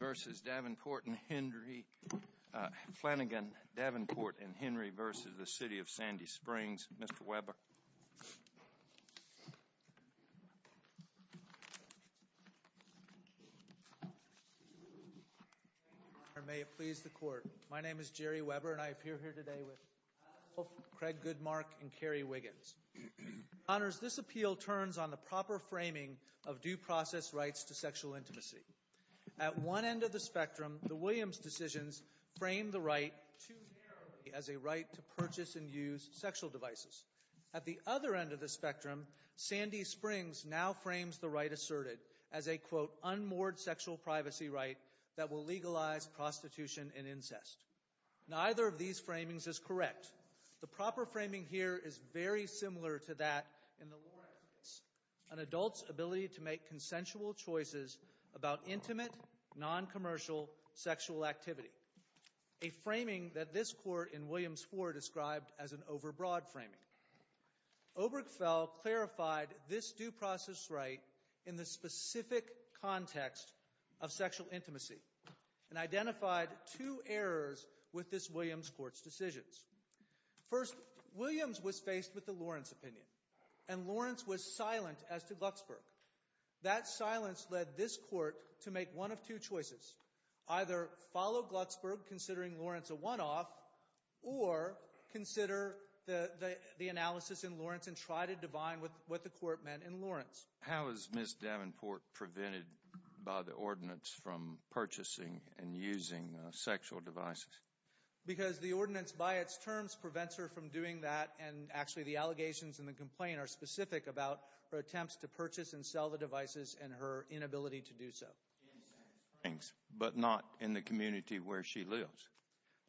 v. Flanigan, Davenport, and Henry v. City of Sandy Springs. Mr. Weber. Thank you, Your Honor. May it please the Court. My name is Jerry Weber, and I appear here today with Craig Goodmark and Carrie Wiggins. Your Honors, this appeal turns on the proper framing of due process rights to sexual intimacy. At one end of the spectrum, the Williams decisions frame the right too narrowly as a right to purchase and use sexual devices. At the other end of the spectrum, Sandy Springs now frames the right asserted as a, quote, unmoored sexual privacy right that will legalize prostitution and incest. Neither of these framings is correct. The proper framing here is very similar to that in the Warren case. An adult's ability to make consensual choices about intimate, noncommercial sexual activity. A framing that this Court in Williams 4 described as an overbroad framing. Obergefell clarified this due process right in the specific context of sexual intimacy and identified two errors with this Williams Court's decisions. First, Williams was faced with the Lawrence opinion, and Lawrence was silent as to Glucksberg. That silence led this Court to make one of two choices. Either follow Glucksberg, considering Lawrence a one-off, or consider the analysis in Lawrence and try to divine what the Court meant in Lawrence. How is Ms. Davenport prevented by the ordinance from purchasing and using sexual devices? Because the ordinance, by its terms, prevents her from doing that, and actually the allegations in the complaint are specific about her attempts to purchase and sell the devices and her inability to do so. In Sandy Springs, but not in the community where she lives?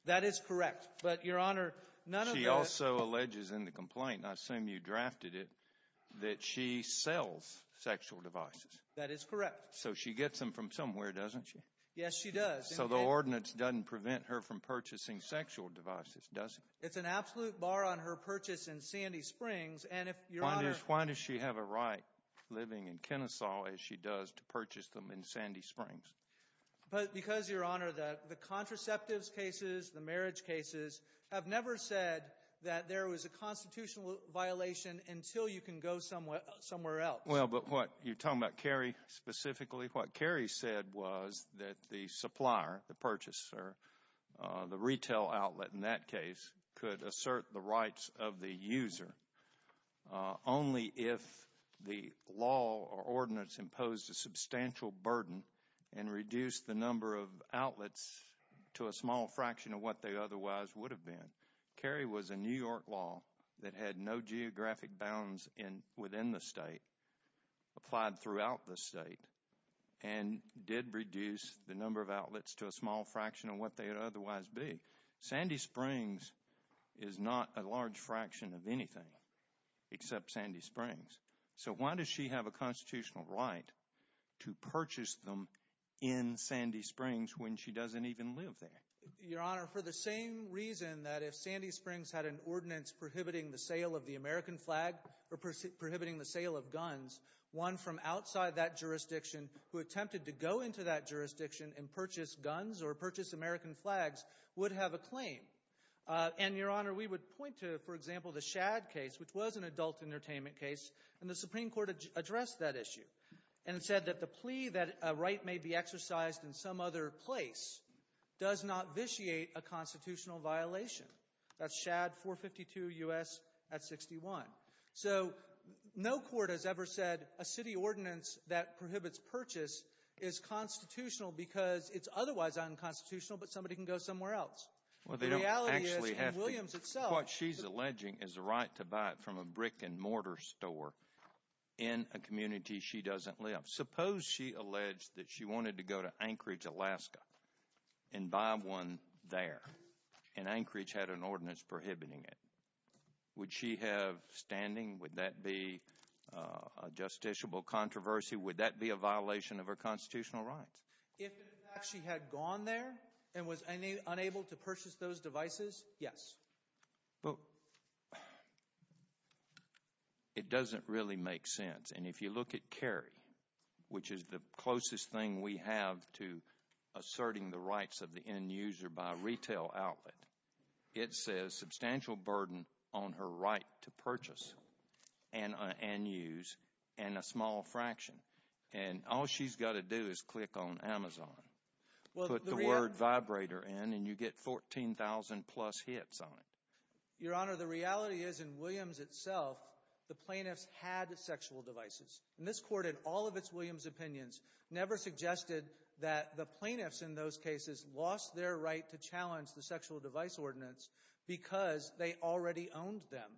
That is correct. But, Your Honor, none of the... She also alleges in the complaint, and I assume you drafted it, that she sells sexual devices. That is correct. So she gets them from somewhere, doesn't she? Yes, she does. So the ordinance doesn't prevent her from purchasing sexual devices, does it? It's an absolute bar on her purchase in Sandy Springs, and if Your Honor... Why does she have a right, living in Kennesaw, as she does, to purchase them in Sandy Springs? Because, Your Honor, the contraceptives cases, the marriage cases, have never said that there was a constitutional violation until you can go somewhere else. Well, but what you're talking about, Carrie, specifically, what Carrie said was that the supplier, the purchaser, the retail outlet in that case, could assert the rights of the user only if the law or ordinance imposed a substantial burden and reduced the number of outlets to a small fraction of what they otherwise would have been. Carrie was a New York law that had no geographic bounds within the state, applied throughout the state, and did reduce the number of outlets to a small fraction of what they would otherwise be. Sandy Springs is not a large fraction of anything, except Sandy Springs. So why does she have a constitutional right to purchase them in Sandy Springs when she doesn't even live there? Your Honor, for the same reason that if Sandy Springs had an ordinance prohibiting the sale of the American flag or prohibiting the sale of guns, one from outside that jurisdiction who attempted to go into that jurisdiction and purchase guns or purchase American flags would have a claim. And, Your Honor, we would point to, for example, the Shad case, which was an adult entertainment case, and the Supreme Court addressed that issue and said that the plea that a right may be exercised in some other place does not vitiate a constitutional violation. That's Shad 452 U.S. at 61. So no court has ever said a city ordinance that prohibits purchase is constitutional because it's otherwise unconstitutional, but somebody can go somewhere else. The reality is, in Williams itself— What she's alleging is a right to buy it from a brick-and-mortar store in a community she doesn't live. Suppose she alleged that she wanted to go to Anchorage, Alaska and buy one there, and Anchorage had an ordinance prohibiting it. Would she have standing? Would that be a justiciable controversy? Would that be a violation of her constitutional rights? If, in fact, she had gone there and was unable to purchase those devices, yes. But it doesn't really make sense. And if you look at Cary, which is the closest thing we have to asserting the rights of the end user by retail outlet, it says substantial burden on her right to purchase and use and a small fraction. And all she's got to do is click on Amazon, put the word vibrator in, and you get 14,000-plus hits on it. Your Honor, the reality is, in Williams itself, the plaintiffs had sexual devices. And this Court, in all of its Williams opinions, never suggested that the plaintiffs in those cases lost their right to challenge the sexual device ordinance because they already owned them.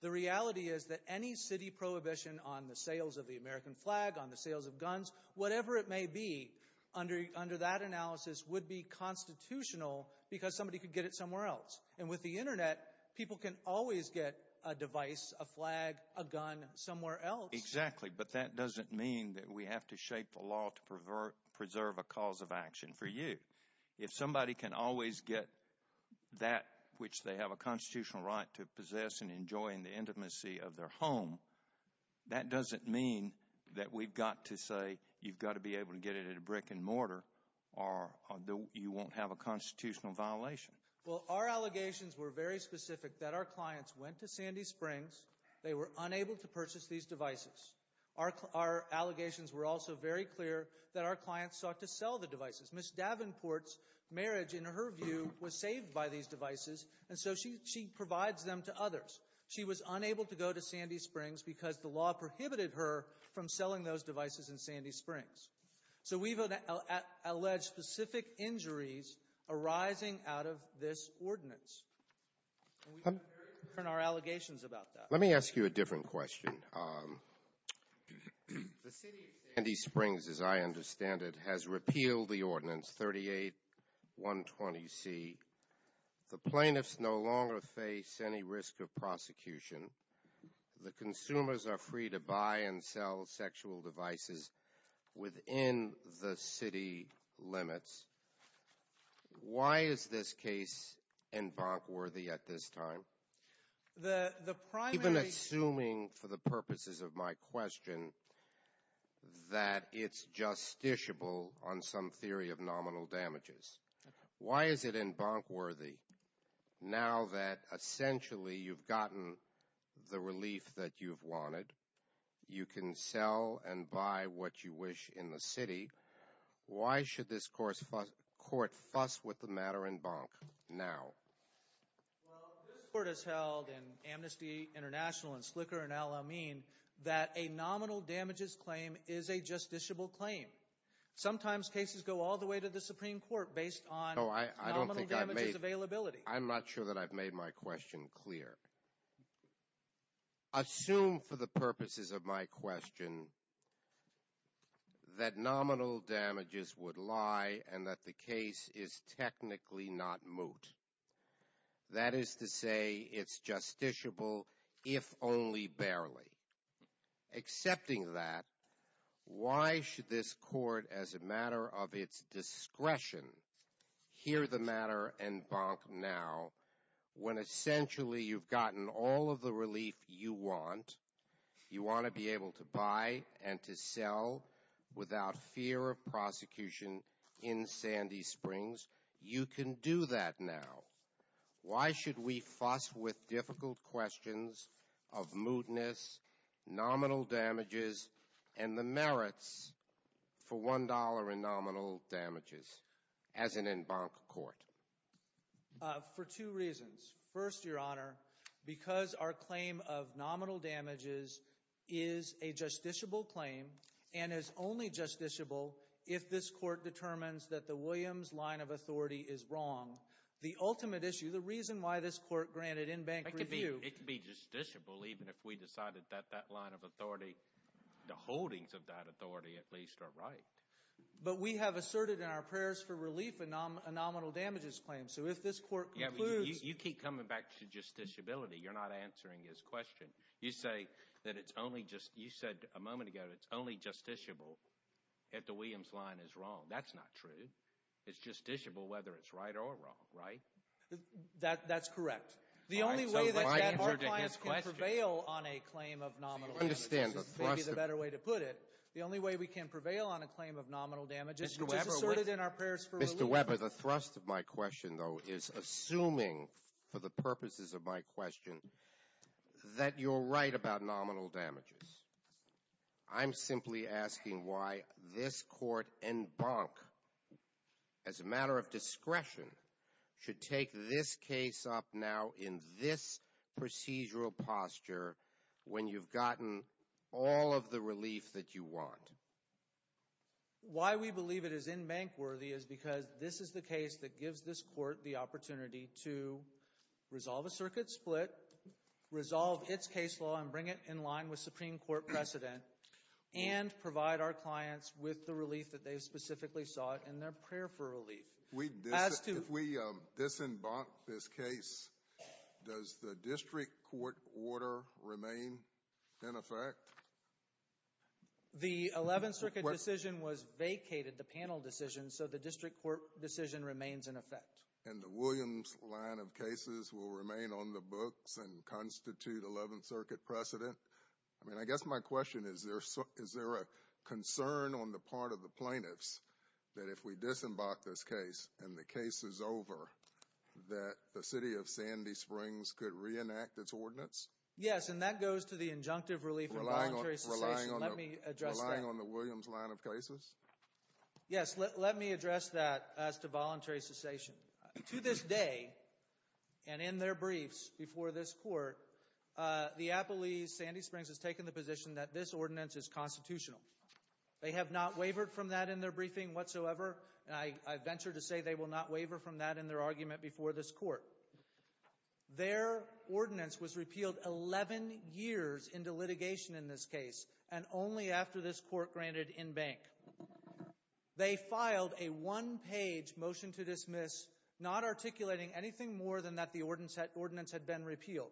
The reality is that any city prohibition on the sales of the American flag, on the sales of guns, whatever it may be, under that analysis, would be constitutional because somebody could get it somewhere else. And with the Internet, people can always get a device, a flag, a gun somewhere else. Exactly, but that doesn't mean that we have to shape the law to preserve a cause of action for you. If somebody can always get that which they have a constitutional right to possess and enjoy in the intimacy of their home, that doesn't mean that we've got to say you've got to be able to get it at a brick and mortar or you won't have a constitutional violation. Well, our allegations were very specific that our clients went to Sandy Springs. They were unable to purchase these devices. Our allegations were also very clear that our clients sought to sell the devices. Ms. Davenport's marriage, in her view, was saved by these devices, and so she provides them to others. She was unable to go to Sandy Springs because the law prohibited her from selling those devices in Sandy Springs. So we've alleged specific injuries arising out of this ordinance. And we've heard our allegations about that. Let me ask you a different question. The city of Sandy Springs, as I understand it, has repealed the ordinance 38120C. The plaintiffs no longer face any risk of prosecution. The consumers are free to buy and sell sexual devices within the city limits. Why is this case involved worthy at this time? Even assuming for the purposes of my question that it's justiciable on some theory of nominal damages, why is it in bonk worthy now that essentially you've gotten the relief that you've wanted? You can sell and buy what you wish in the city. Why should this court fuss with the matter in bonk now? Well, this court has held in Amnesty International and Slicker and Al-Amin that a nominal damages claim is a justiciable claim. Sometimes cases go all the way to the Supreme Court based on nominal damages availability. I'm not sure that I've made my question clear. Assume for the purposes of my question that nominal damages would lie and that the case is technically not moot. That is to say it's justiciable if only barely. Accepting that, why should this court as a matter of its discretion hear the matter in bonk now when essentially you've gotten all of the relief you want? You want to be able to buy and to sell without fear of prosecution in Sandy Springs. You can do that now. Why should we fuss with difficult questions of mootness, nominal damages, and the merits for $1 in nominal damages as in in bonk court? For two reasons. First, Your Honor, because our claim of nominal damages is a justiciable claim and is only justiciable if this court determines that the Williams line of authority is wrong. The ultimate issue, the reason why this court granted in bank review. It could be justiciable even if we decided that that line of authority, the holdings of that authority at least are right. But we have asserted in our prayers for relief a nominal damages claim. So if this court concludes. You keep coming back to justiciability. You're not answering his question. You say that it's only just, you said a moment ago, it's only justiciable if the Williams line is wrong. That's not true. It's justiciable whether it's right or wrong, right? That's correct. The only way that our clients can prevail on a claim of nominal damages. Maybe the better way to put it. The only way we can prevail on a claim of nominal damages. Mr. Webber, the thrust of my question, though, is assuming for the purposes of my question that you're right about nominal damages. I'm simply asking why this court in bank as a matter of discretion should take this case up now in this procedural posture. When you've gotten all of the relief that you want. Why we believe it is in bank worthy is because this is the case that gives this court the opportunity to resolve a circuit split. Resolve its case law and bring it in line with Supreme Court precedent. And provide our clients with the relief that they specifically sought in their prayer for relief. If we disembark this case, does the district court order remain in effect? The 11th Circuit decision was vacated, the panel decision, so the district court decision remains in effect. And the Williams line of cases will remain on the books and constitute 11th Circuit precedent? I mean, I guess my question is, is there a concern on the part of the plaintiffs that if we disembark this case and the case is over, that the city of Sandy Springs could reenact its ordinance? Yes, and that goes to the injunctive relief and voluntary cessation. Relying on the Williams line of cases? Yes, let me address that as to voluntary cessation. To this day, and in their briefs before this court, the Appalachee Sandy Springs has taken the position that this ordinance is constitutional. They have not wavered from that in their briefing whatsoever, and I venture to say they will not waver from that in their argument before this court. Their ordinance was repealed 11 years into litigation in this case, and only after this court granted in-bank. They filed a one-page motion to dismiss, not articulating anything more than that the ordinance had been repealed.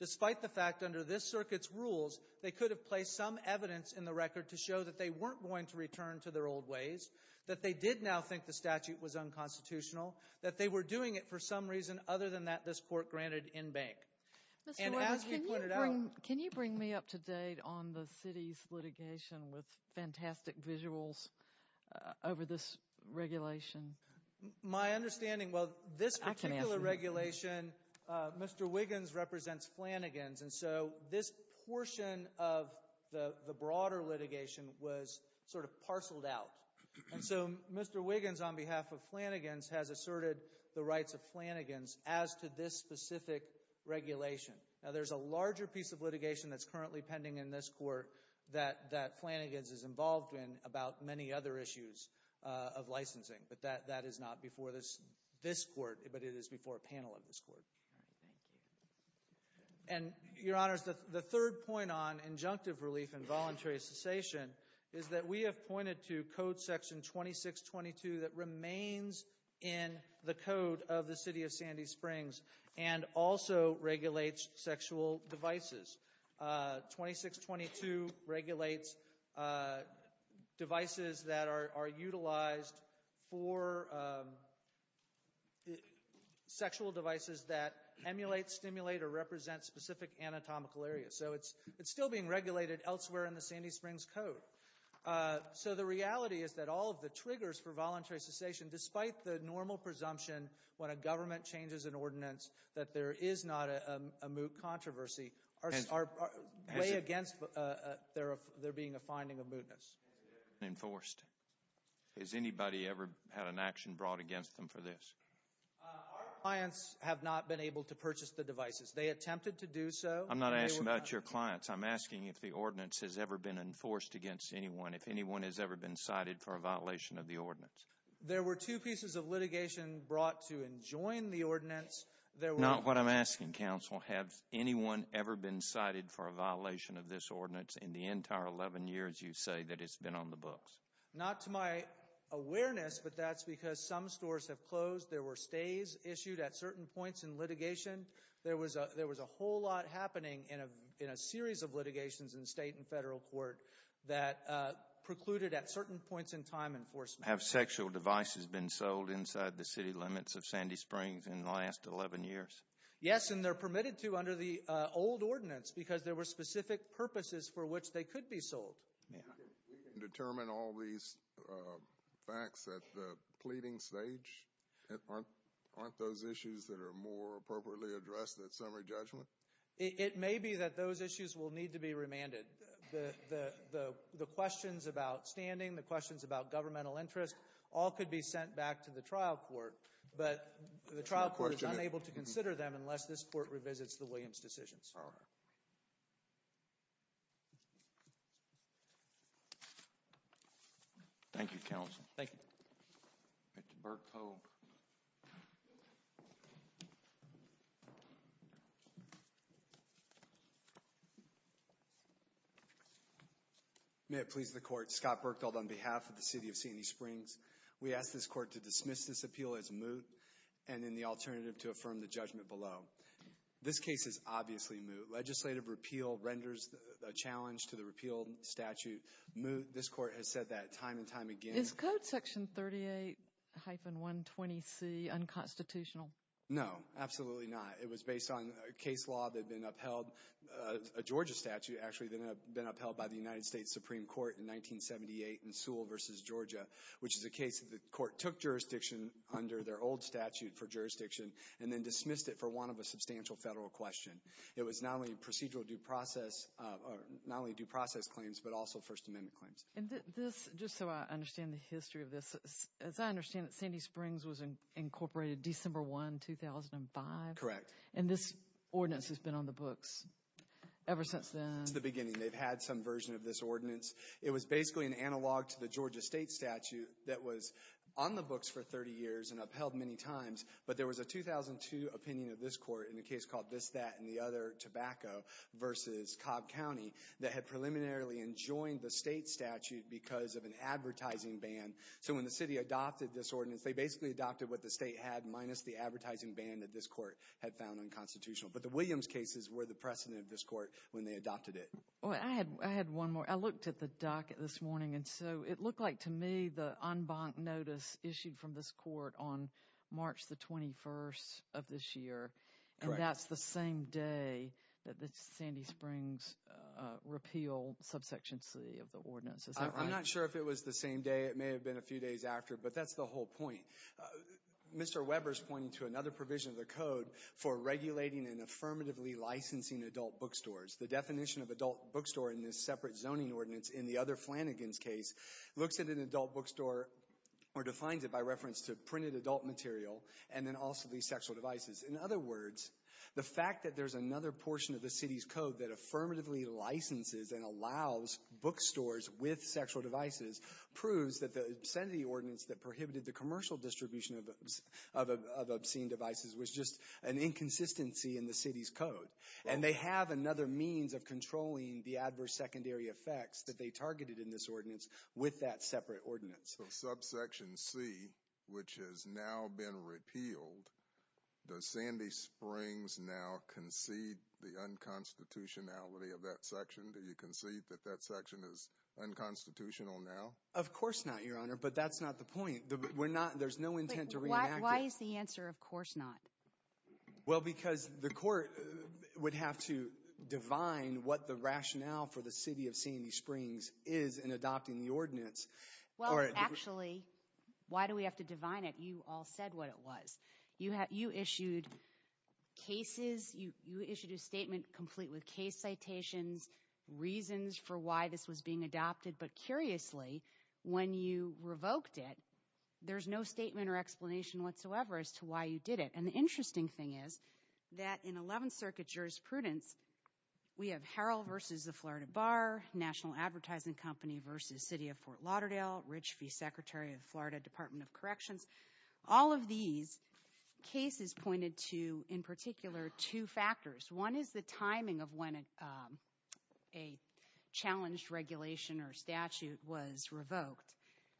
Despite the fact, under this circuit's rules, they could have placed some evidence in the record to show that they weren't going to return to their old ways, that they did now think the statute was unconstitutional, that they were doing it for some reason other than that this court granted in-bank. Mr. Williams, can you bring me up to date on the city's litigation with fantastic visuals over this regulation? My understanding, well, this particular regulation, Mr. Wiggins represents Flanagan's, and so this portion of the broader litigation was sort of parceled out. And so Mr. Wiggins, on behalf of Flanagan's, has asserted the rights of Flanagan's as to this specific regulation. Now, there's a larger piece of litigation that's currently pending in this court that Flanagan's is involved in about many other issues of licensing, but that is not before this court, but it is before a panel of this court. All right, thank you. And, Your Honors, the third point on injunctive relief and voluntary cessation is that we have pointed to Code Section 2622 that remains in the Code of the City of Sandy Springs and also regulates sexual devices. 2622 regulates devices that are utilized for sexual devices that emulate, stimulate, or represent specific anatomical areas. So it's still being regulated elsewhere in the Sandy Springs Code. So the reality is that all of the triggers for voluntary cessation, despite the normal presumption when a government changes an ordinance, that there is not a moot controversy, are way against there being a finding of mootness. Has it ever been enforced? Has anybody ever had an action brought against them for this? Our clients have not been able to purchase the devices. They attempted to do so. I'm not asking about your clients. I'm asking if the ordinance has ever been enforced against anyone, if anyone has ever been cited for a violation of the ordinance. There were two pieces of litigation brought to enjoin the ordinance. Not what I'm asking, counsel. Has anyone ever been cited for a violation of this ordinance in the entire 11 years, you say, that it's been on the books? Not to my awareness, but that's because some stores have closed. There were stays issued at certain points in litigation. There was a whole lot happening in a series of litigations in state and federal court that precluded at certain points in time enforcement. Have sexual devices been sold inside the city limits of Sandy Springs in the last 11 years? Yes, and they're permitted to under the old ordinance because there were specific purposes for which they could be sold. We can determine all these facts at the pleading stage? Aren't those issues that are more appropriately addressed at summary judgment? It may be that those issues will need to be remanded. The questions about standing, the questions about governmental interest, all could be sent back to the trial court, but the trial court is unable to consider them unless this court revisits the Williams decisions. All right. Thank you, counsel. Thank you. Mr. Berkow. May it please the court. Scott Berkow on behalf of the city of Sandy Springs. We ask this court to dismiss this appeal as moot and in the alternative to affirm the judgment below. This case is obviously moot. Legislative repeal renders a challenge to the repeal statute moot. This court has said that time and time again. Is code section 38-120C unconstitutional? No, absolutely not. It was based on a case law that had been upheld, a Georgia statute actually, that had been upheld by the United States Supreme Court in 1978 in Sewell versus Georgia, which is a case that the court took jurisdiction under their old statute for jurisdiction and then dismissed it for want of a substantial federal question. It was not only procedural due process, not only due process claims, but also First Amendment claims. Just so I understand the history of this, as I understand it, Sandy Springs was incorporated December 1, 2005? Correct. And this ordinance has been on the books ever since then? Since the beginning. They've had some version of this ordinance. It was basically an analog to the Georgia state statute that was on the books for 30 years and upheld many times. But there was a 2002 opinion of this court in a case called this, that, and the other tobacco versus Cobb County that had preliminarily enjoined the state statute because of an advertising ban. So when the city adopted this ordinance, they basically adopted what the state had minus the advertising ban that this court had found unconstitutional. But the Williams cases were the precedent of this court when they adopted it. I had one more. I looked at the docket this morning, and so it looked like to me the en banc notice issued from this court on March 21 of this year. And that's the same day that the Sandy Springs repeal Subsection C of the ordinance. I'm not sure if it was the same day. It may have been a few days after, but that's the whole point. Mr. Weber's pointing to another provision of the code for regulating and affirmatively licensing adult bookstores. The definition of adult bookstore in this separate zoning ordinance in the other Flanagan's case looks at an adult bookstore or defines it by reference to printed adult material and then also these sexual devices. In other words, the fact that there's another portion of the city's code that affirmatively licenses and allows bookstores with sexual devices proves that the Sandy ordinance that prohibited the commercial distribution of obscene devices was just an inconsistency in the city's code. And they have another means of controlling the adverse secondary effects that they targeted in this ordinance with that separate ordinance. So Subsection C, which has now been repealed, does Sandy Springs now concede the unconstitutionality of that section? Do you concede that that section is unconstitutional now? Of course not, Your Honor, but that's not the point. There's no intent to reenact it. Why is the answer of course not? Well, because the court would have to divine what the rationale for the city of Sandy Springs is in adopting the ordinance. Well, actually, why do we have to divine it? You all said what it was. You issued cases. You issued a statement complete with case citations, reasons for why this was being adopted. But curiously, when you revoked it, there's no statement or explanation whatsoever as to why you did it. And the interesting thing is that in 11th Circuit jurisprudence, we have Harrell v. The Florida Bar, National Advertising Company v. City of Fort Lauderdale, Rich V. Secretary of Florida Department of Corrections. All of these cases pointed to, in particular, two factors. One is the timing of when a challenged regulation or statute was revoked.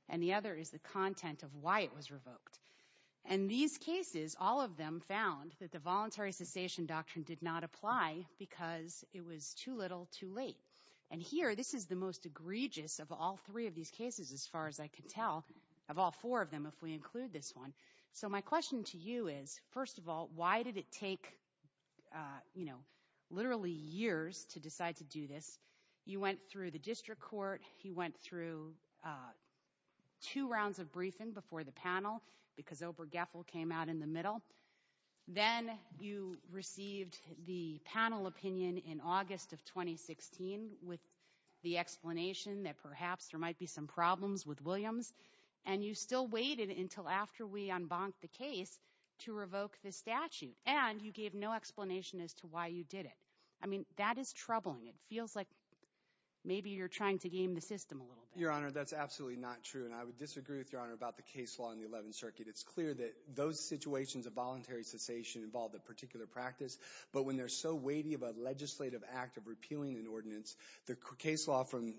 And the other is the content of why it was revoked. And these cases, all of them found that the voluntary cessation doctrine did not apply because it was too little too late. And here, this is the most egregious of all three of these cases, as far as I can tell, of all four of them, if we include this one. So my question to you is, first of all, why did it take, you know, literally years to decide to do this? You went through the district court. You went through two rounds of briefing before the panel because Oprah Geffel came out in the middle. Then you received the panel opinion in August of 2016 with the explanation that perhaps there might be some problems with Williams. And you still waited until after we unbonked the case to revoke the statute. And you gave no explanation as to why you did it. I mean, that is troubling. It feels like maybe you're trying to game the system a little bit. Your Honor, that's absolutely not true. And I would disagree with Your Honor about the case law in the 11th Circuit. It's clear that those situations of voluntary cessation involve a particular practice. But when they're so weighty of a legislative act of repealing an ordinance, the case law from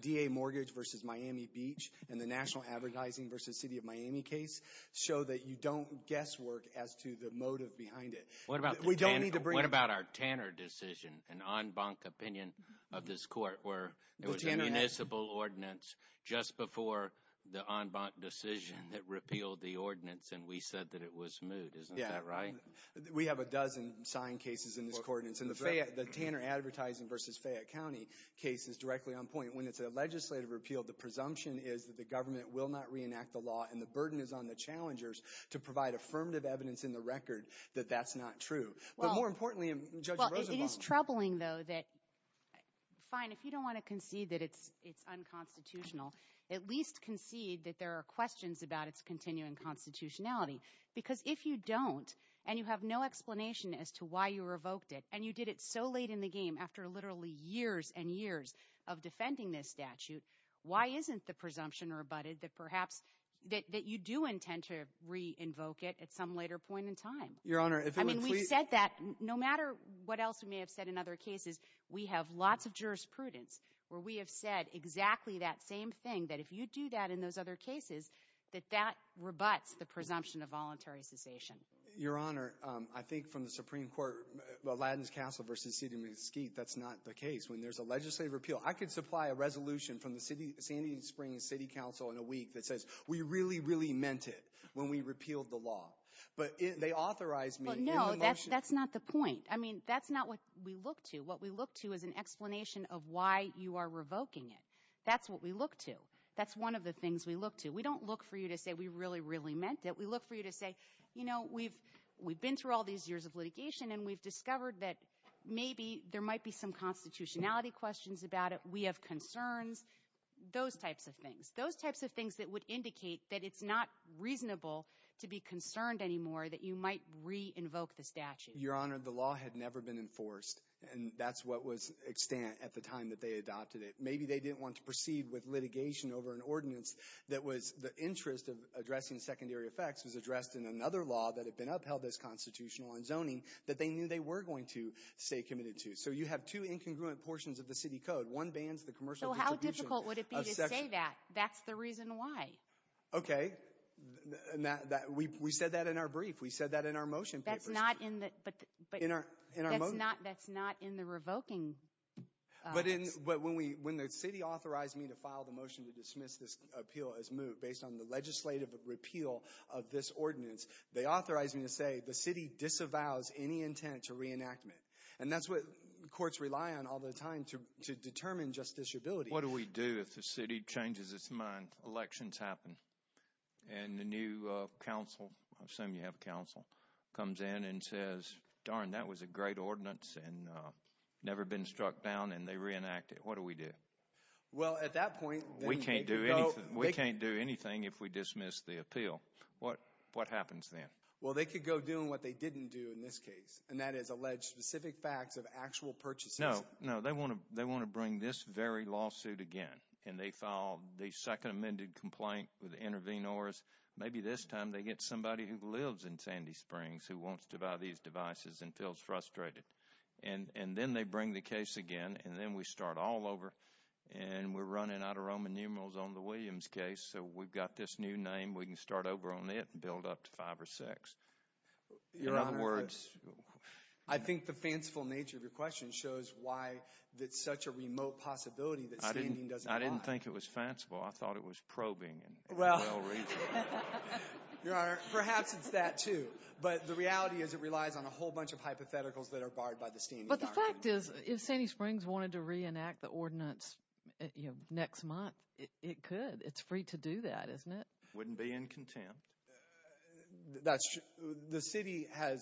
DA Mortgage v. Miami Beach and the National Advertising v. City of Miami case show that you don't guesswork as to the motive behind it. What about our Tanner decision, an en banc opinion of this court where it was a municipal ordinance just before the en banc decision that repealed the ordinance? And we said that it was moot. Isn't that right? Yeah. We have a dozen signed cases in this ordinance. And the Tanner Advertising v. Fayette County case is directly on point. When it's a legislative repeal, the presumption is that the government will not reenact the law. And the burden is on the challengers to provide affirmative evidence in the record that that's not true. But more importantly, Judge Rosenbaum. It is troubling, though, that fine, if you don't want to concede that it's unconstitutional, at least concede that there are questions about its continuing constitutionality. Because if you don't and you have no explanation as to why you revoked it and you did it so late in the game after literally years and years of defending this statute, why isn't the presumption rebutted that perhaps that you do intend to re-invoke it at some later point in time? I mean, we've said that. No matter what else we may have said in other cases, we have lots of jurisprudence where we have said exactly that same thing, that if you do that in those other cases, that that rebuts the presumption of voluntary cessation. Your Honor, I think from the Supreme Court, Aladdin's Castle v. City of Mesquite, that's not the case. When there's a legislative repeal, I could supply a resolution from the Sandy Springs City Council in a week that says we really, really meant it when we repealed the law. But they authorized me in the motion. No, that's not the point. I mean, that's not what we look to. What we look to is an explanation of why you are revoking it. That's what we look to. That's one of the things we look to. We don't look for you to say we really, really meant it. We look for you to say, you know, we've been through all these years of litigation, and we've discovered that maybe there might be some constitutionality questions about it, we have concerns, those types of things. Those types of things that would indicate that it's not reasonable to be concerned anymore, that you might re-invoke the statute. Your Honor, the law had never been enforced, and that's what was extant at the time that they adopted it. Maybe they didn't want to proceed with litigation over an ordinance that was the interest of addressing secondary effects was addressed in another law that had been upheld as constitutional in zoning that they knew they were going to stay committed to. So, you have two incongruent portions of the city code. One bans the commercial distribution of sections. So, how difficult would it be to say that? That's the reason why. Okay. We said that in our brief. We said that in our motion papers. That's not in the revoking. But when the city authorized me to file the motion to dismiss this appeal as moved based on the legislative repeal of this ordinance, they authorized me to say the city disavows any intent to reenactment. And that's what courts rely on all the time to determine justiciability. What do we do if the city changes its mind? Elections happen. And the new council, I assume you have a council, comes in and says, darn, that was a great ordinance and never been struck down. And they reenact it. What do we do? Well, at that point, we can't do anything. We can't do anything if we dismiss the appeal. What happens then? Well, they could go doing what they didn't do in this case. And that is allege specific facts of actual purchases. No, no. They want to bring this very lawsuit again. And they file the second amended complaint with intervenors. Maybe this time they get somebody who lives in Sandy Springs who wants to buy these devices and feels frustrated. And then they bring the case again. And then we start all over. And we're running out of Roman numerals on the Williams case. So we've got this new name. We can start over on it and build up to five or six. Your Honor, I think the fanciful nature of your question shows why it's such a remote possibility. I didn't think it was fanciful. I thought it was probing and well reasoned. Your Honor, perhaps it's that too. But the reality is it relies on a whole bunch of hypotheticals that are barred by the standing argument. But the fact is if Sandy Springs wanted to reenact the ordinance next month, it could. It's free to do that, isn't it? Wouldn't be in contempt. That's true. The city has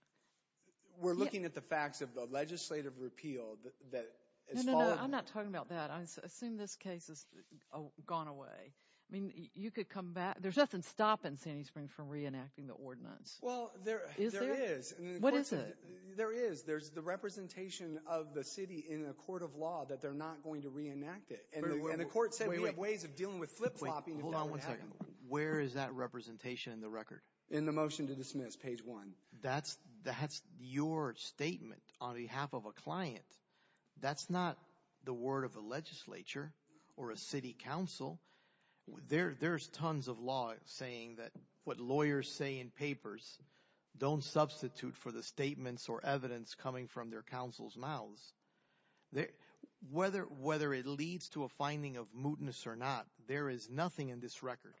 – we're looking at the facts of the legislative repeal that has followed. No, no, no. I'm not talking about that. I assume this case has gone away. I mean you could come back. There's nothing stopping Sandy Springs from reenacting the ordinance. Well, there is. Is there? What is it? There is. There's the representation of the city in a court of law that they're not going to reenact it. And the court said we have ways of dealing with flip-flopping. Hold on one second. Where is that representation in the record? In the motion to dismiss, page one. That's your statement on behalf of a client. That's not the word of a legislature or a city council. There's tons of law saying that what lawyers say in papers don't substitute for the statements or evidence coming from their counsel's mouths. Whether it leads to a finding of mootness or not, there is nothing in this record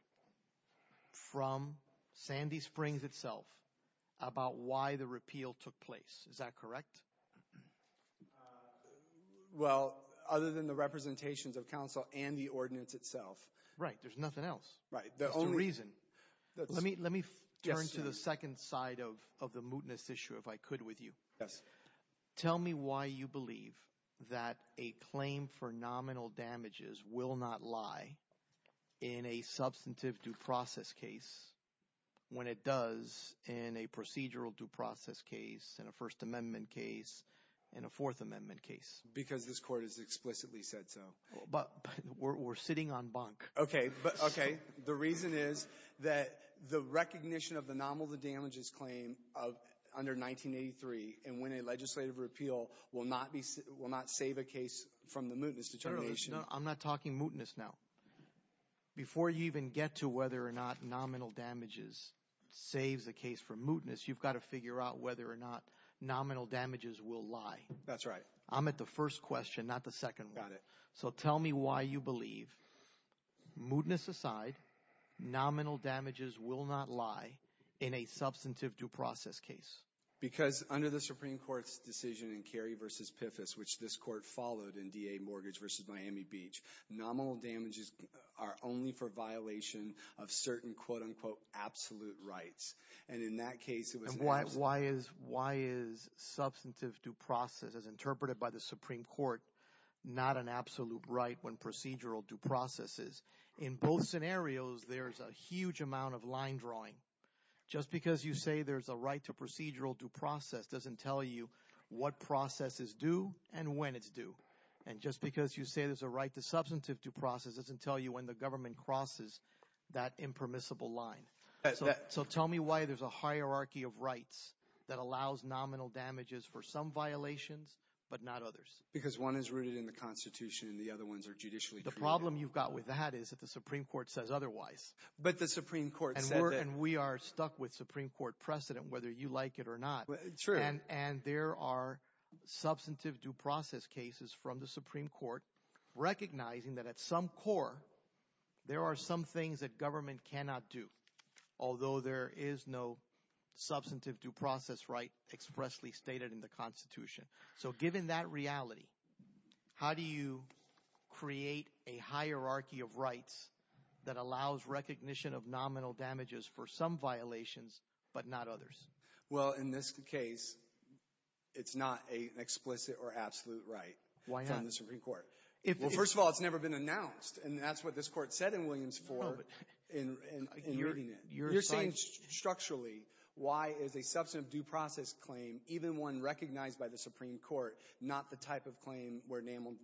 from Sandy Springs itself about why the repeal took place. Is that correct? Well, other than the representations of counsel and the ordinance itself. Right. There's nothing else. Right. There's no reason. Let me turn to the second side of the mootness issue if I could with you. Yes. Tell me why you believe that a claim for nominal damages will not lie in a substantive due process case when it does in a procedural due process case, in a First Amendment case, in a Fourth Amendment case. Because this court has explicitly said so. But we're sitting on bunk. The reason is that the recognition of the nominal damages claim under 1983 and when a legislative repeal will not save a case from the mootness determination. I'm not talking mootness now. Before you even get to whether or not nominal damages saves a case from mootness, you've got to figure out whether or not nominal damages will lie. That's right. I'm at the first question, not the second one. Got it. So tell me why you believe, mootness aside, nominal damages will not lie in a substantive due process case. Because under the Supreme Court's decision in Carey v. Piffus, which this court followed in DA Mortgage v. Miami Beach, nominal damages are only for violation of certain, quote, unquote, absolute rights. And why is substantive due process, as interpreted by the Supreme Court, not an absolute right when procedural due process is? In both scenarios, there's a huge amount of line drawing. Just because you say there's a right to procedural due process doesn't tell you what process is due and when it's due. And just because you say there's a right to substantive due process doesn't tell you when the government crosses that impermissible line. So tell me why there's a hierarchy of rights that allows nominal damages for some violations but not others. Because one is rooted in the Constitution and the other ones are judicially created. The problem you've got with that is that the Supreme Court says otherwise. But the Supreme Court said that. And we are stuck with Supreme Court precedent, whether you like it or not. True. And there are substantive due process cases from the Supreme Court recognizing that at some core there are some things that government cannot do. Although there is no substantive due process right expressly stated in the Constitution. So given that reality, how do you create a hierarchy of rights that allows recognition of nominal damages for some violations but not others? Well, in this case, it's not an explicit or absolute right from the Supreme Court. Why not? Well, first of all, it's never been announced. And that's what this court said in Williams IV in reading it. You're saying structurally why is a substantive due process claim, even one recognized by the Supreme Court, not the type of claim where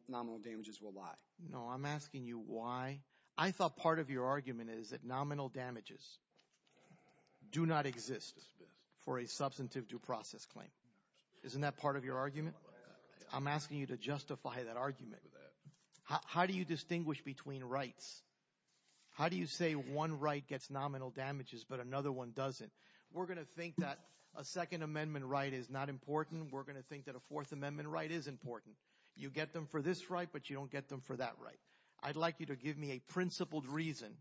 nominal damages will lie? No, I'm asking you why. I thought part of your argument is that nominal damages do not exist for a substantive due process claim. Isn't that part of your argument? I'm asking you to justify that argument. How do you distinguish between rights? How do you say one right gets nominal damages but another one doesn't? We're going to think that a Second Amendment right is not important. We're going to think that a Fourth Amendment right is important. You get them for this right, but you don't get them for that right. I'd like you to give me a principled reason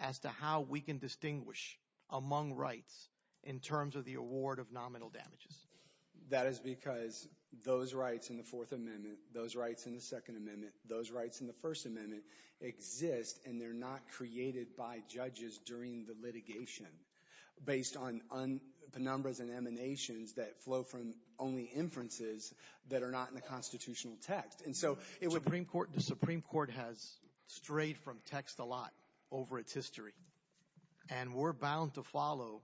as to how we can distinguish among rights in terms of the award of nominal damages. That is because those rights in the Fourth Amendment, those rights in the Second Amendment, those rights in the First Amendment exist, and they're not created by judges during the litigation based on penumbras and emanations that flow from only inferences that are not in the constitutional text. The Supreme Court has strayed from text a lot over its history, and we're bound to follow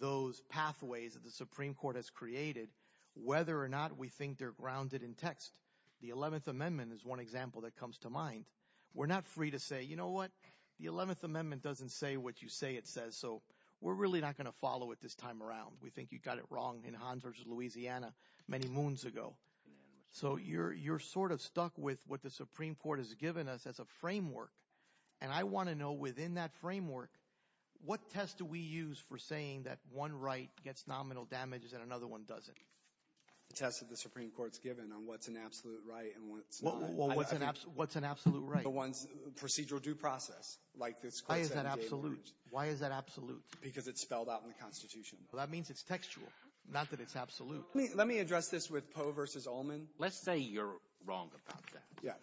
those pathways that the Supreme Court has created whether or not we think they're grounded in text. The Eleventh Amendment is one example that comes to mind. We're not free to say, you know what, the Eleventh Amendment doesn't say what you say it says, so we're really not going to follow it this time around. We think you got it wrong in Honduras, Louisiana, many moons ago. So you're sort of stuck with what the Supreme Court has given us as a framework, and I want to know within that framework, what test do we use for saying that one right gets nominal damages and another one doesn't? The test that the Supreme Court's given on what's an absolute right and what's not. Well, what's an absolute right? The one's procedural due process, like this Constitution. Why is that absolute? Why is that absolute? Because it's spelled out in the Constitution. Well, that means it's textual, not that it's absolute. Let me address this with Poe v. Ullman. Let's say you're wrong about that. Yes.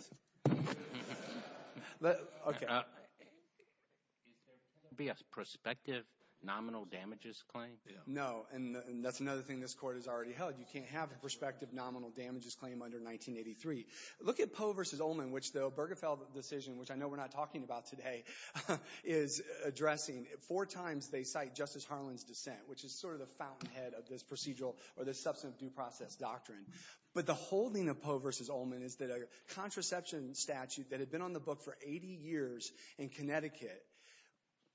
Okay. Is there going to be a prospective nominal damages claim? No, and that's another thing this Court has already held. You can't have a prospective nominal damages claim under 1983. Look at Poe v. Ullman, which the Bergefell decision, which I know we're not talking about today, is addressing. Four times they cite Justice Harlan's dissent, which is sort of the fountainhead of this procedural or this substantive due process doctrine. But the holding of Poe v. Ullman is that a contraception statute that had been on the book for 80 years in Connecticut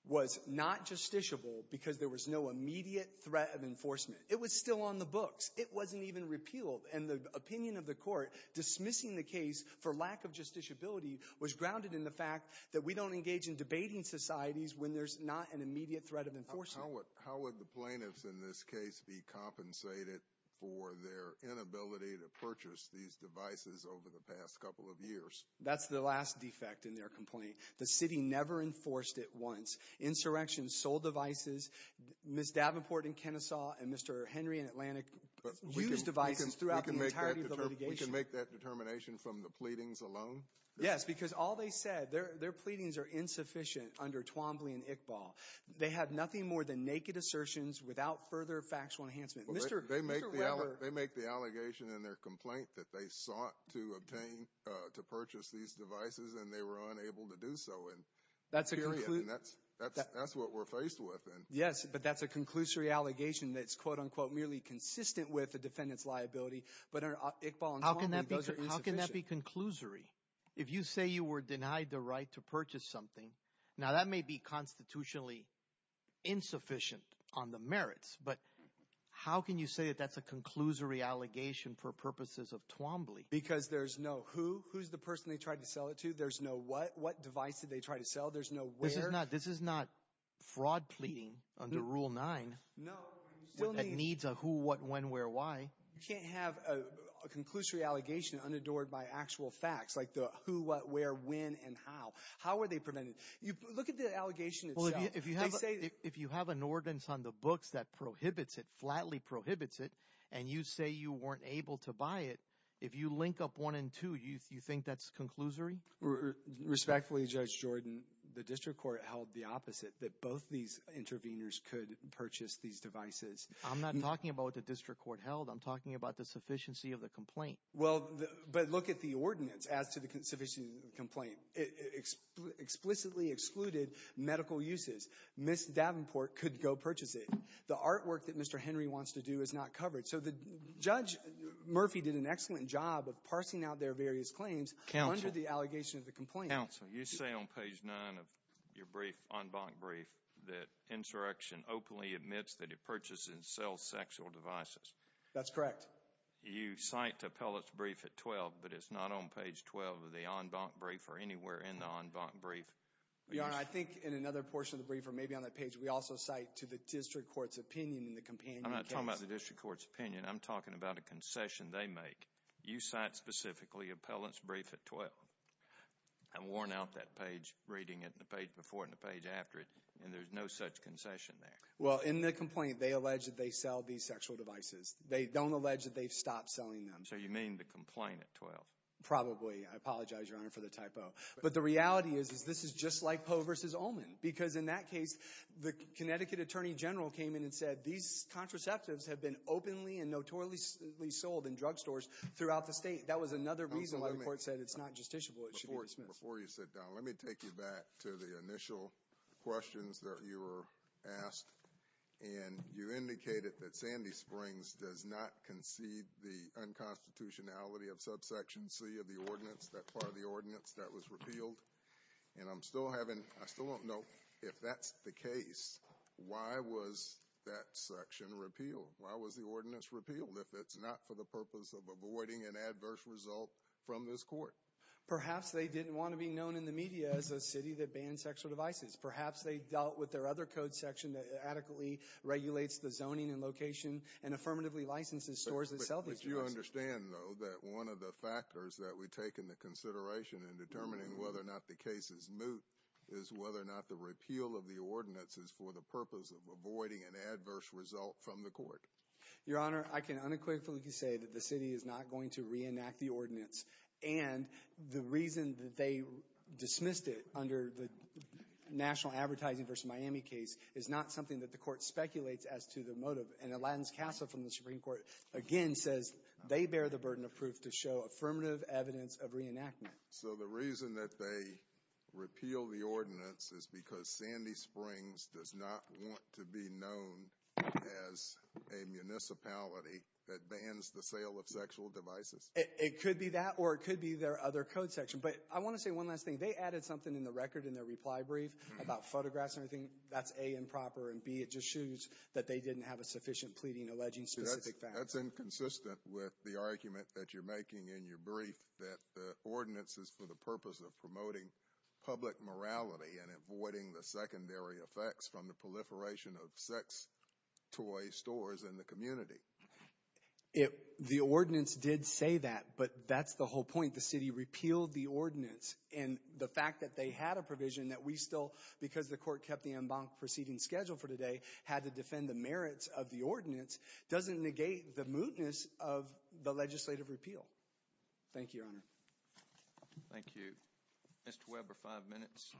was not justiciable because there was no immediate threat of enforcement. It was still on the books. It wasn't even repealed. And the opinion of the Court dismissing the case for lack of justiciability was grounded in the fact that we don't engage in debating societies when there's not an immediate threat of enforcement. How would the plaintiffs in this case be compensated for their inability to purchase these devices over the past couple of years? That's the last defect in their complaint. The city never enforced it once. Insurrection sold the devices. Ms. Davenport and Kennesaw and Mr. Henry and Atlantic used devices throughout the entirety of the litigation. We can make that determination from the pleadings alone? Yes, because all they said, their pleadings are insufficient under Twombly and Iqbal. They had nothing more than naked assertions without further factual enhancement. They make the allegation in their complaint that they sought to obtain, to purchase these devices, and they were unable to do so. And that's what we're faced with. Yes, but that's a conclusory allegation that's quote-unquote merely consistent with the defendant's liability. But under Iqbal and Twombly, those are insufficient. How can that be conclusory? If you say you were denied the right to purchase something, now that may be constitutionally insufficient on the merits. But how can you say that that's a conclusory allegation for purposes of Twombly? Because there's no who. Who's the person they tried to sell it to? There's no what. What device did they try to sell? There's no where. This is not fraud pleading under Rule 9 that needs a who, what, when, where, why. You can't have a conclusory allegation unadored by actual facts like the who, what, where, when, and how. How were they prevented? Look at the allegation itself. If you have an ordinance on the books that prohibits it, flatly prohibits it, and you say you weren't able to buy it, if you link up one and two, you think that's conclusory? Respectfully, Judge Jordan, the district court held the opposite, that both these interveners could purchase these devices. I'm not talking about what the district court held. I'm talking about the sufficiency of the complaint. Well, but look at the ordinance as to the sufficiency of the complaint. It explicitly excluded medical uses. Ms. Davenport could go purchase it. The artwork that Mr. Henry wants to do is not covered. So Judge Murphy did an excellent job of parsing out their various claims under the allegation of the complaint. Counsel, you say on page 9 of your brief, en banc brief, that insurrection openly admits that it purchases and sells sexual devices. That's correct. You cite Appellate's brief at 12, but it's not on page 12 of the en banc brief or anywhere in the en banc brief. Your Honor, I think in another portion of the brief or maybe on that page, we also cite to the district court's opinion in the companion case. I'm not talking about the district court's opinion. I'm talking about a concession they make. You cite specifically Appellate's brief at 12. I've worn out that page reading it in the page before and the page after it, and there's no such concession there. Well, in the complaint, they allege that they sell these sexual devices. They don't allege that they've stopped selling them. So you mean the complaint at 12? Probably. I apologize, Your Honor, for the typo. But the reality is this is just like Poe v. Ullman because in that case, the Connecticut attorney general came in and said, these contraceptives have been openly and notoriously sold in drugstores throughout the state. That was another reason why the court said it's not justiciable, it should be dismissed. Before you sit down, let me take you back to the initial questions that you were asked. And you indicated that Sandy Springs does not concede the unconstitutionality of subsection C of the ordinance, that part of the ordinance that was repealed. And I'm still having, I still don't know if that's the case. Why was that section repealed? Why was the ordinance repealed if it's not for the purpose of avoiding an adverse result from this court? Perhaps they didn't want to be known in the media as a city that bans sexual devices. Perhaps they dealt with their other code section that adequately regulates the zoning and location and affirmatively licenses stores that sell these devices. I understand, though, that one of the factors that we take into consideration in determining whether or not the case is moot is whether or not the repeal of the ordinance is for the purpose of avoiding an adverse result from the court. Your Honor, I can unequivocally say that the city is not going to reenact the ordinance. And the reason that they dismissed it under the national advertising versus Miami case is not something that the court speculates as to the motive. And Atlanta's CASA from the Supreme Court again says they bear the burden of proof to show affirmative evidence of reenactment. So the reason that they repeal the ordinance is because Sandy Springs does not want to be known as a municipality that bans the sale of sexual devices? It could be that or it could be their other code section. But I want to say one last thing. They added something in the record in their reply brief about photographs and everything. That's A, improper and B, it just shows that they didn't have a sufficient pleading alleging specific facts. That's inconsistent with the argument that you're making in your brief that the ordinance is for the purpose of promoting public morality and avoiding the secondary effects from the proliferation of sex toy stores in the community. The ordinance did say that, but that's the whole point. The city repealed the ordinance. And the fact that they had a provision that we still, because the court kept the en banc proceeding scheduled for today, had to defend the merits of the ordinance doesn't negate the mootness of the legislative repeal. Thank you, Your Honor. Thank you. Mr. Weber, five minutes.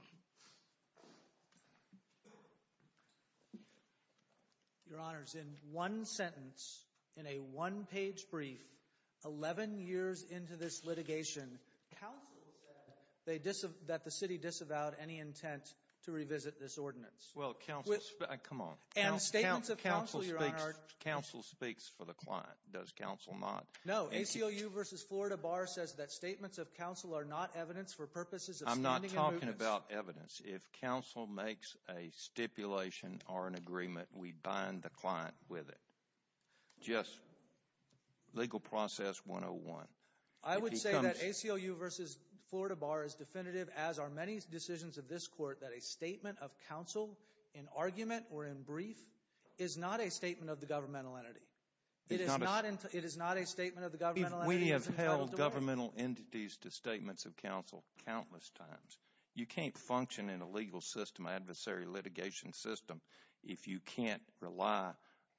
Your Honor, in one sentence, in a one-page brief, 11 years into this litigation, counsel said that the city disavowed any intent to revisit this ordinance. Well, counsel, come on. And statements of counsel, Your Honor. Counsel speaks for the client. Does counsel not? No. ACLU v. Florida Bar says that statements of counsel are not evidence for purposes of standing and mootness. We're talking about evidence. If counsel makes a stipulation or an agreement, we bind the client with it. Just legal process 101. I would say that ACLU v. Florida Bar is definitive, as are many decisions of this court, that a statement of counsel in argument or in brief is not a statement of the governmental entity. It is not a statement of the governmental entity. We have held governmental entities to statements of counsel countless times. You can't function in a legal system, an adversary litigation system, if you can't rely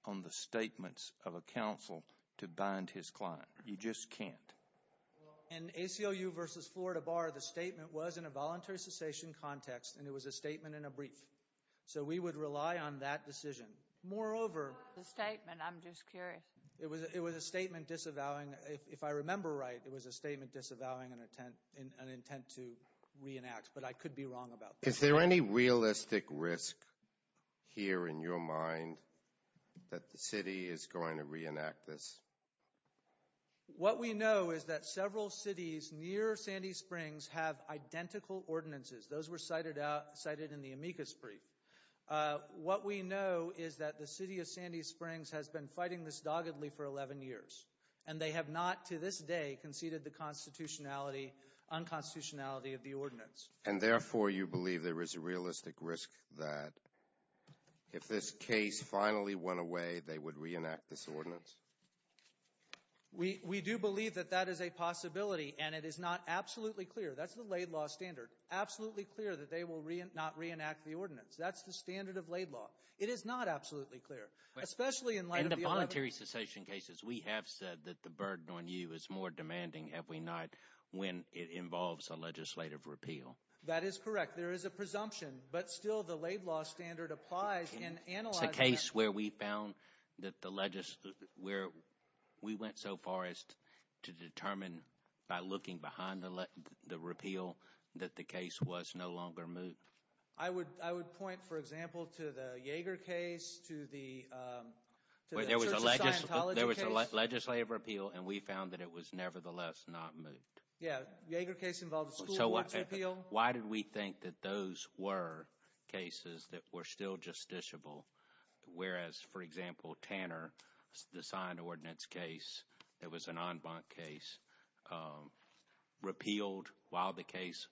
on the statements of a counsel to bind his client. You just can't. In ACLU v. Florida Bar, the statement was in a voluntary cessation context, and it was a statement in a brief. So we would rely on that decision. Moreover— What was the statement? I'm just curious. It was a statement disavowing—if I remember right, it was a statement disavowing an intent to reenact, but I could be wrong about that. Is there any realistic risk here in your mind that the city is going to reenact this? What we know is that several cities near Sandy Springs have identical ordinances. Those were cited in the amicus brief. What we know is that the city of Sandy Springs has been fighting this doggedly for 11 years, and they have not to this day conceded the constitutionality, unconstitutionality of the ordinance. And therefore, you believe there is a realistic risk that if this case finally went away, they would reenact this ordinance? We do believe that that is a possibility, and it is not absolutely clear—that's the laid law standard— that's the standard of laid law. It is not absolutely clear, especially in light of the— In the voluntary cessation cases, we have said that the burden on you is more demanding every night when it involves a legislative repeal. That is correct. There is a presumption, but still the laid law standard applies and analyzes— It's a case where we found that the—where we went so far as to determine by looking behind the repeal that the case was no longer moved. I would point, for example, to the Yeager case, to the Church of Scientology case. There was a legislative repeal, and we found that it was nevertheless not moved. Yeah. The Yeager case involved a school board's repeal. Why did we think that those were cases that were still justiciable, whereas, for example, Tanner, the signed ordinance case, that was an en banc case, repealed while the case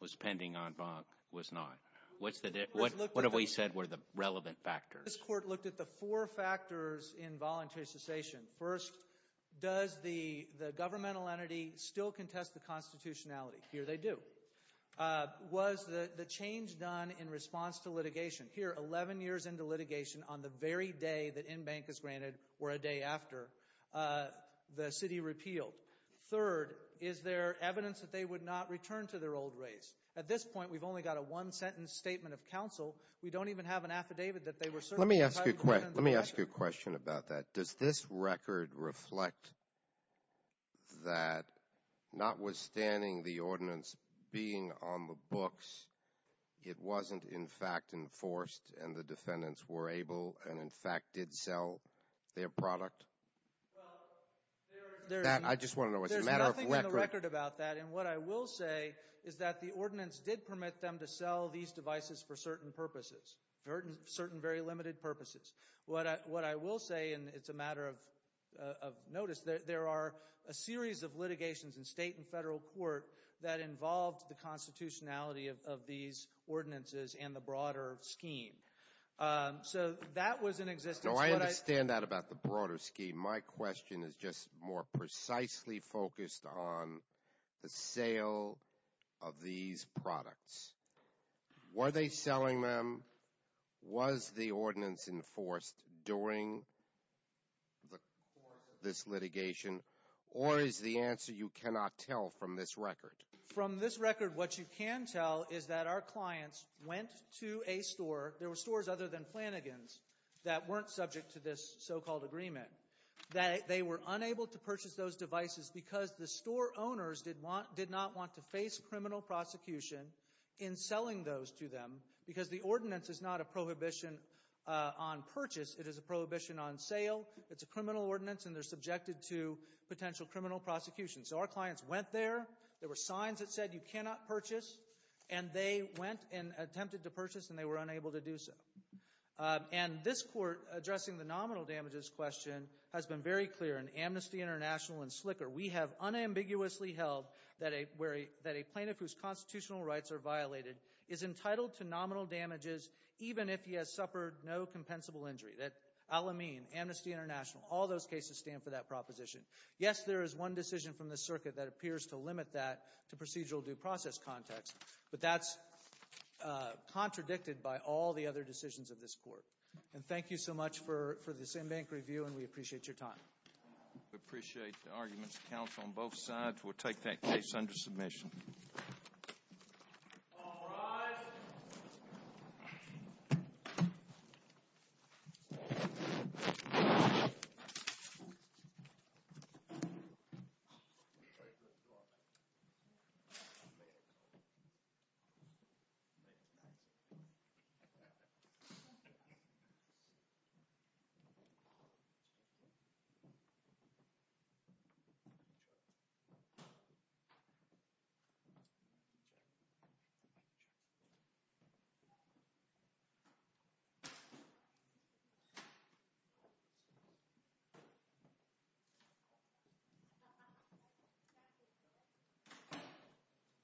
was pending en banc, was not? What have we said were the relevant factors? This Court looked at the four factors in voluntary cessation. First, does the governmental entity still contest the constitutionality? Here they do. Was the change done in response to litigation? Here, 11 years into litigation, on the very day that en banc is granted, or a day after, the city repealed. Third, is there evidence that they would not return to their old race? At this point, we've only got a one-sentence statement of counsel. We don't even have an affidavit that they were— Let me ask you a question about that. Does this record reflect that, notwithstanding the ordinance being on the books, it wasn't, in fact, enforced, and the defendants were able and, in fact, did sell their product? I just want to know, is it a matter of record? There's nothing in the record about that. And what I will say is that the ordinance did permit them to sell these devices for certain purposes, certain very limited purposes. What I will say, and it's a matter of notice, there are a series of litigations in state and federal court that involved the constitutionality of these ordinances and the broader scheme. So that was in existence. No, I understand that about the broader scheme. My question is just more precisely focused on the sale of these products. Were they selling them? Was the ordinance enforced during the course of this litigation? Or is the answer you cannot tell from this record? From this record, what you can tell is that our clients went to a store. There were stores other than Flanagan's that weren't subject to this so-called agreement. They were unable to purchase those devices because the store owners did not want to face criminal prosecution in selling those to them because the ordinance is not a prohibition on purchase. It is a prohibition on sale. It's a criminal ordinance, and they're subjected to potential criminal prosecution. So our clients went there. There were signs that said you cannot purchase. And they went and attempted to purchase, and they were unable to do so. And this Court, addressing the nominal damages question, has been very clear in Amnesty International and SLCR. We have unambiguously held that a plaintiff whose constitutional rights are violated is entitled to nominal damages even if he has suffered no compensable injury. That Al-Amin, Amnesty International, all those cases stand for that proposition. Yes, there is one decision from this circuit that appears to limit that to procedural due process context, but that's contradicted by all the other decisions of this Court. And thank you so much for this in-bank review, and we appreciate your time. We appreciate the arguments of counsel on both sides. We'll take that case under submission. All rise. Thank you.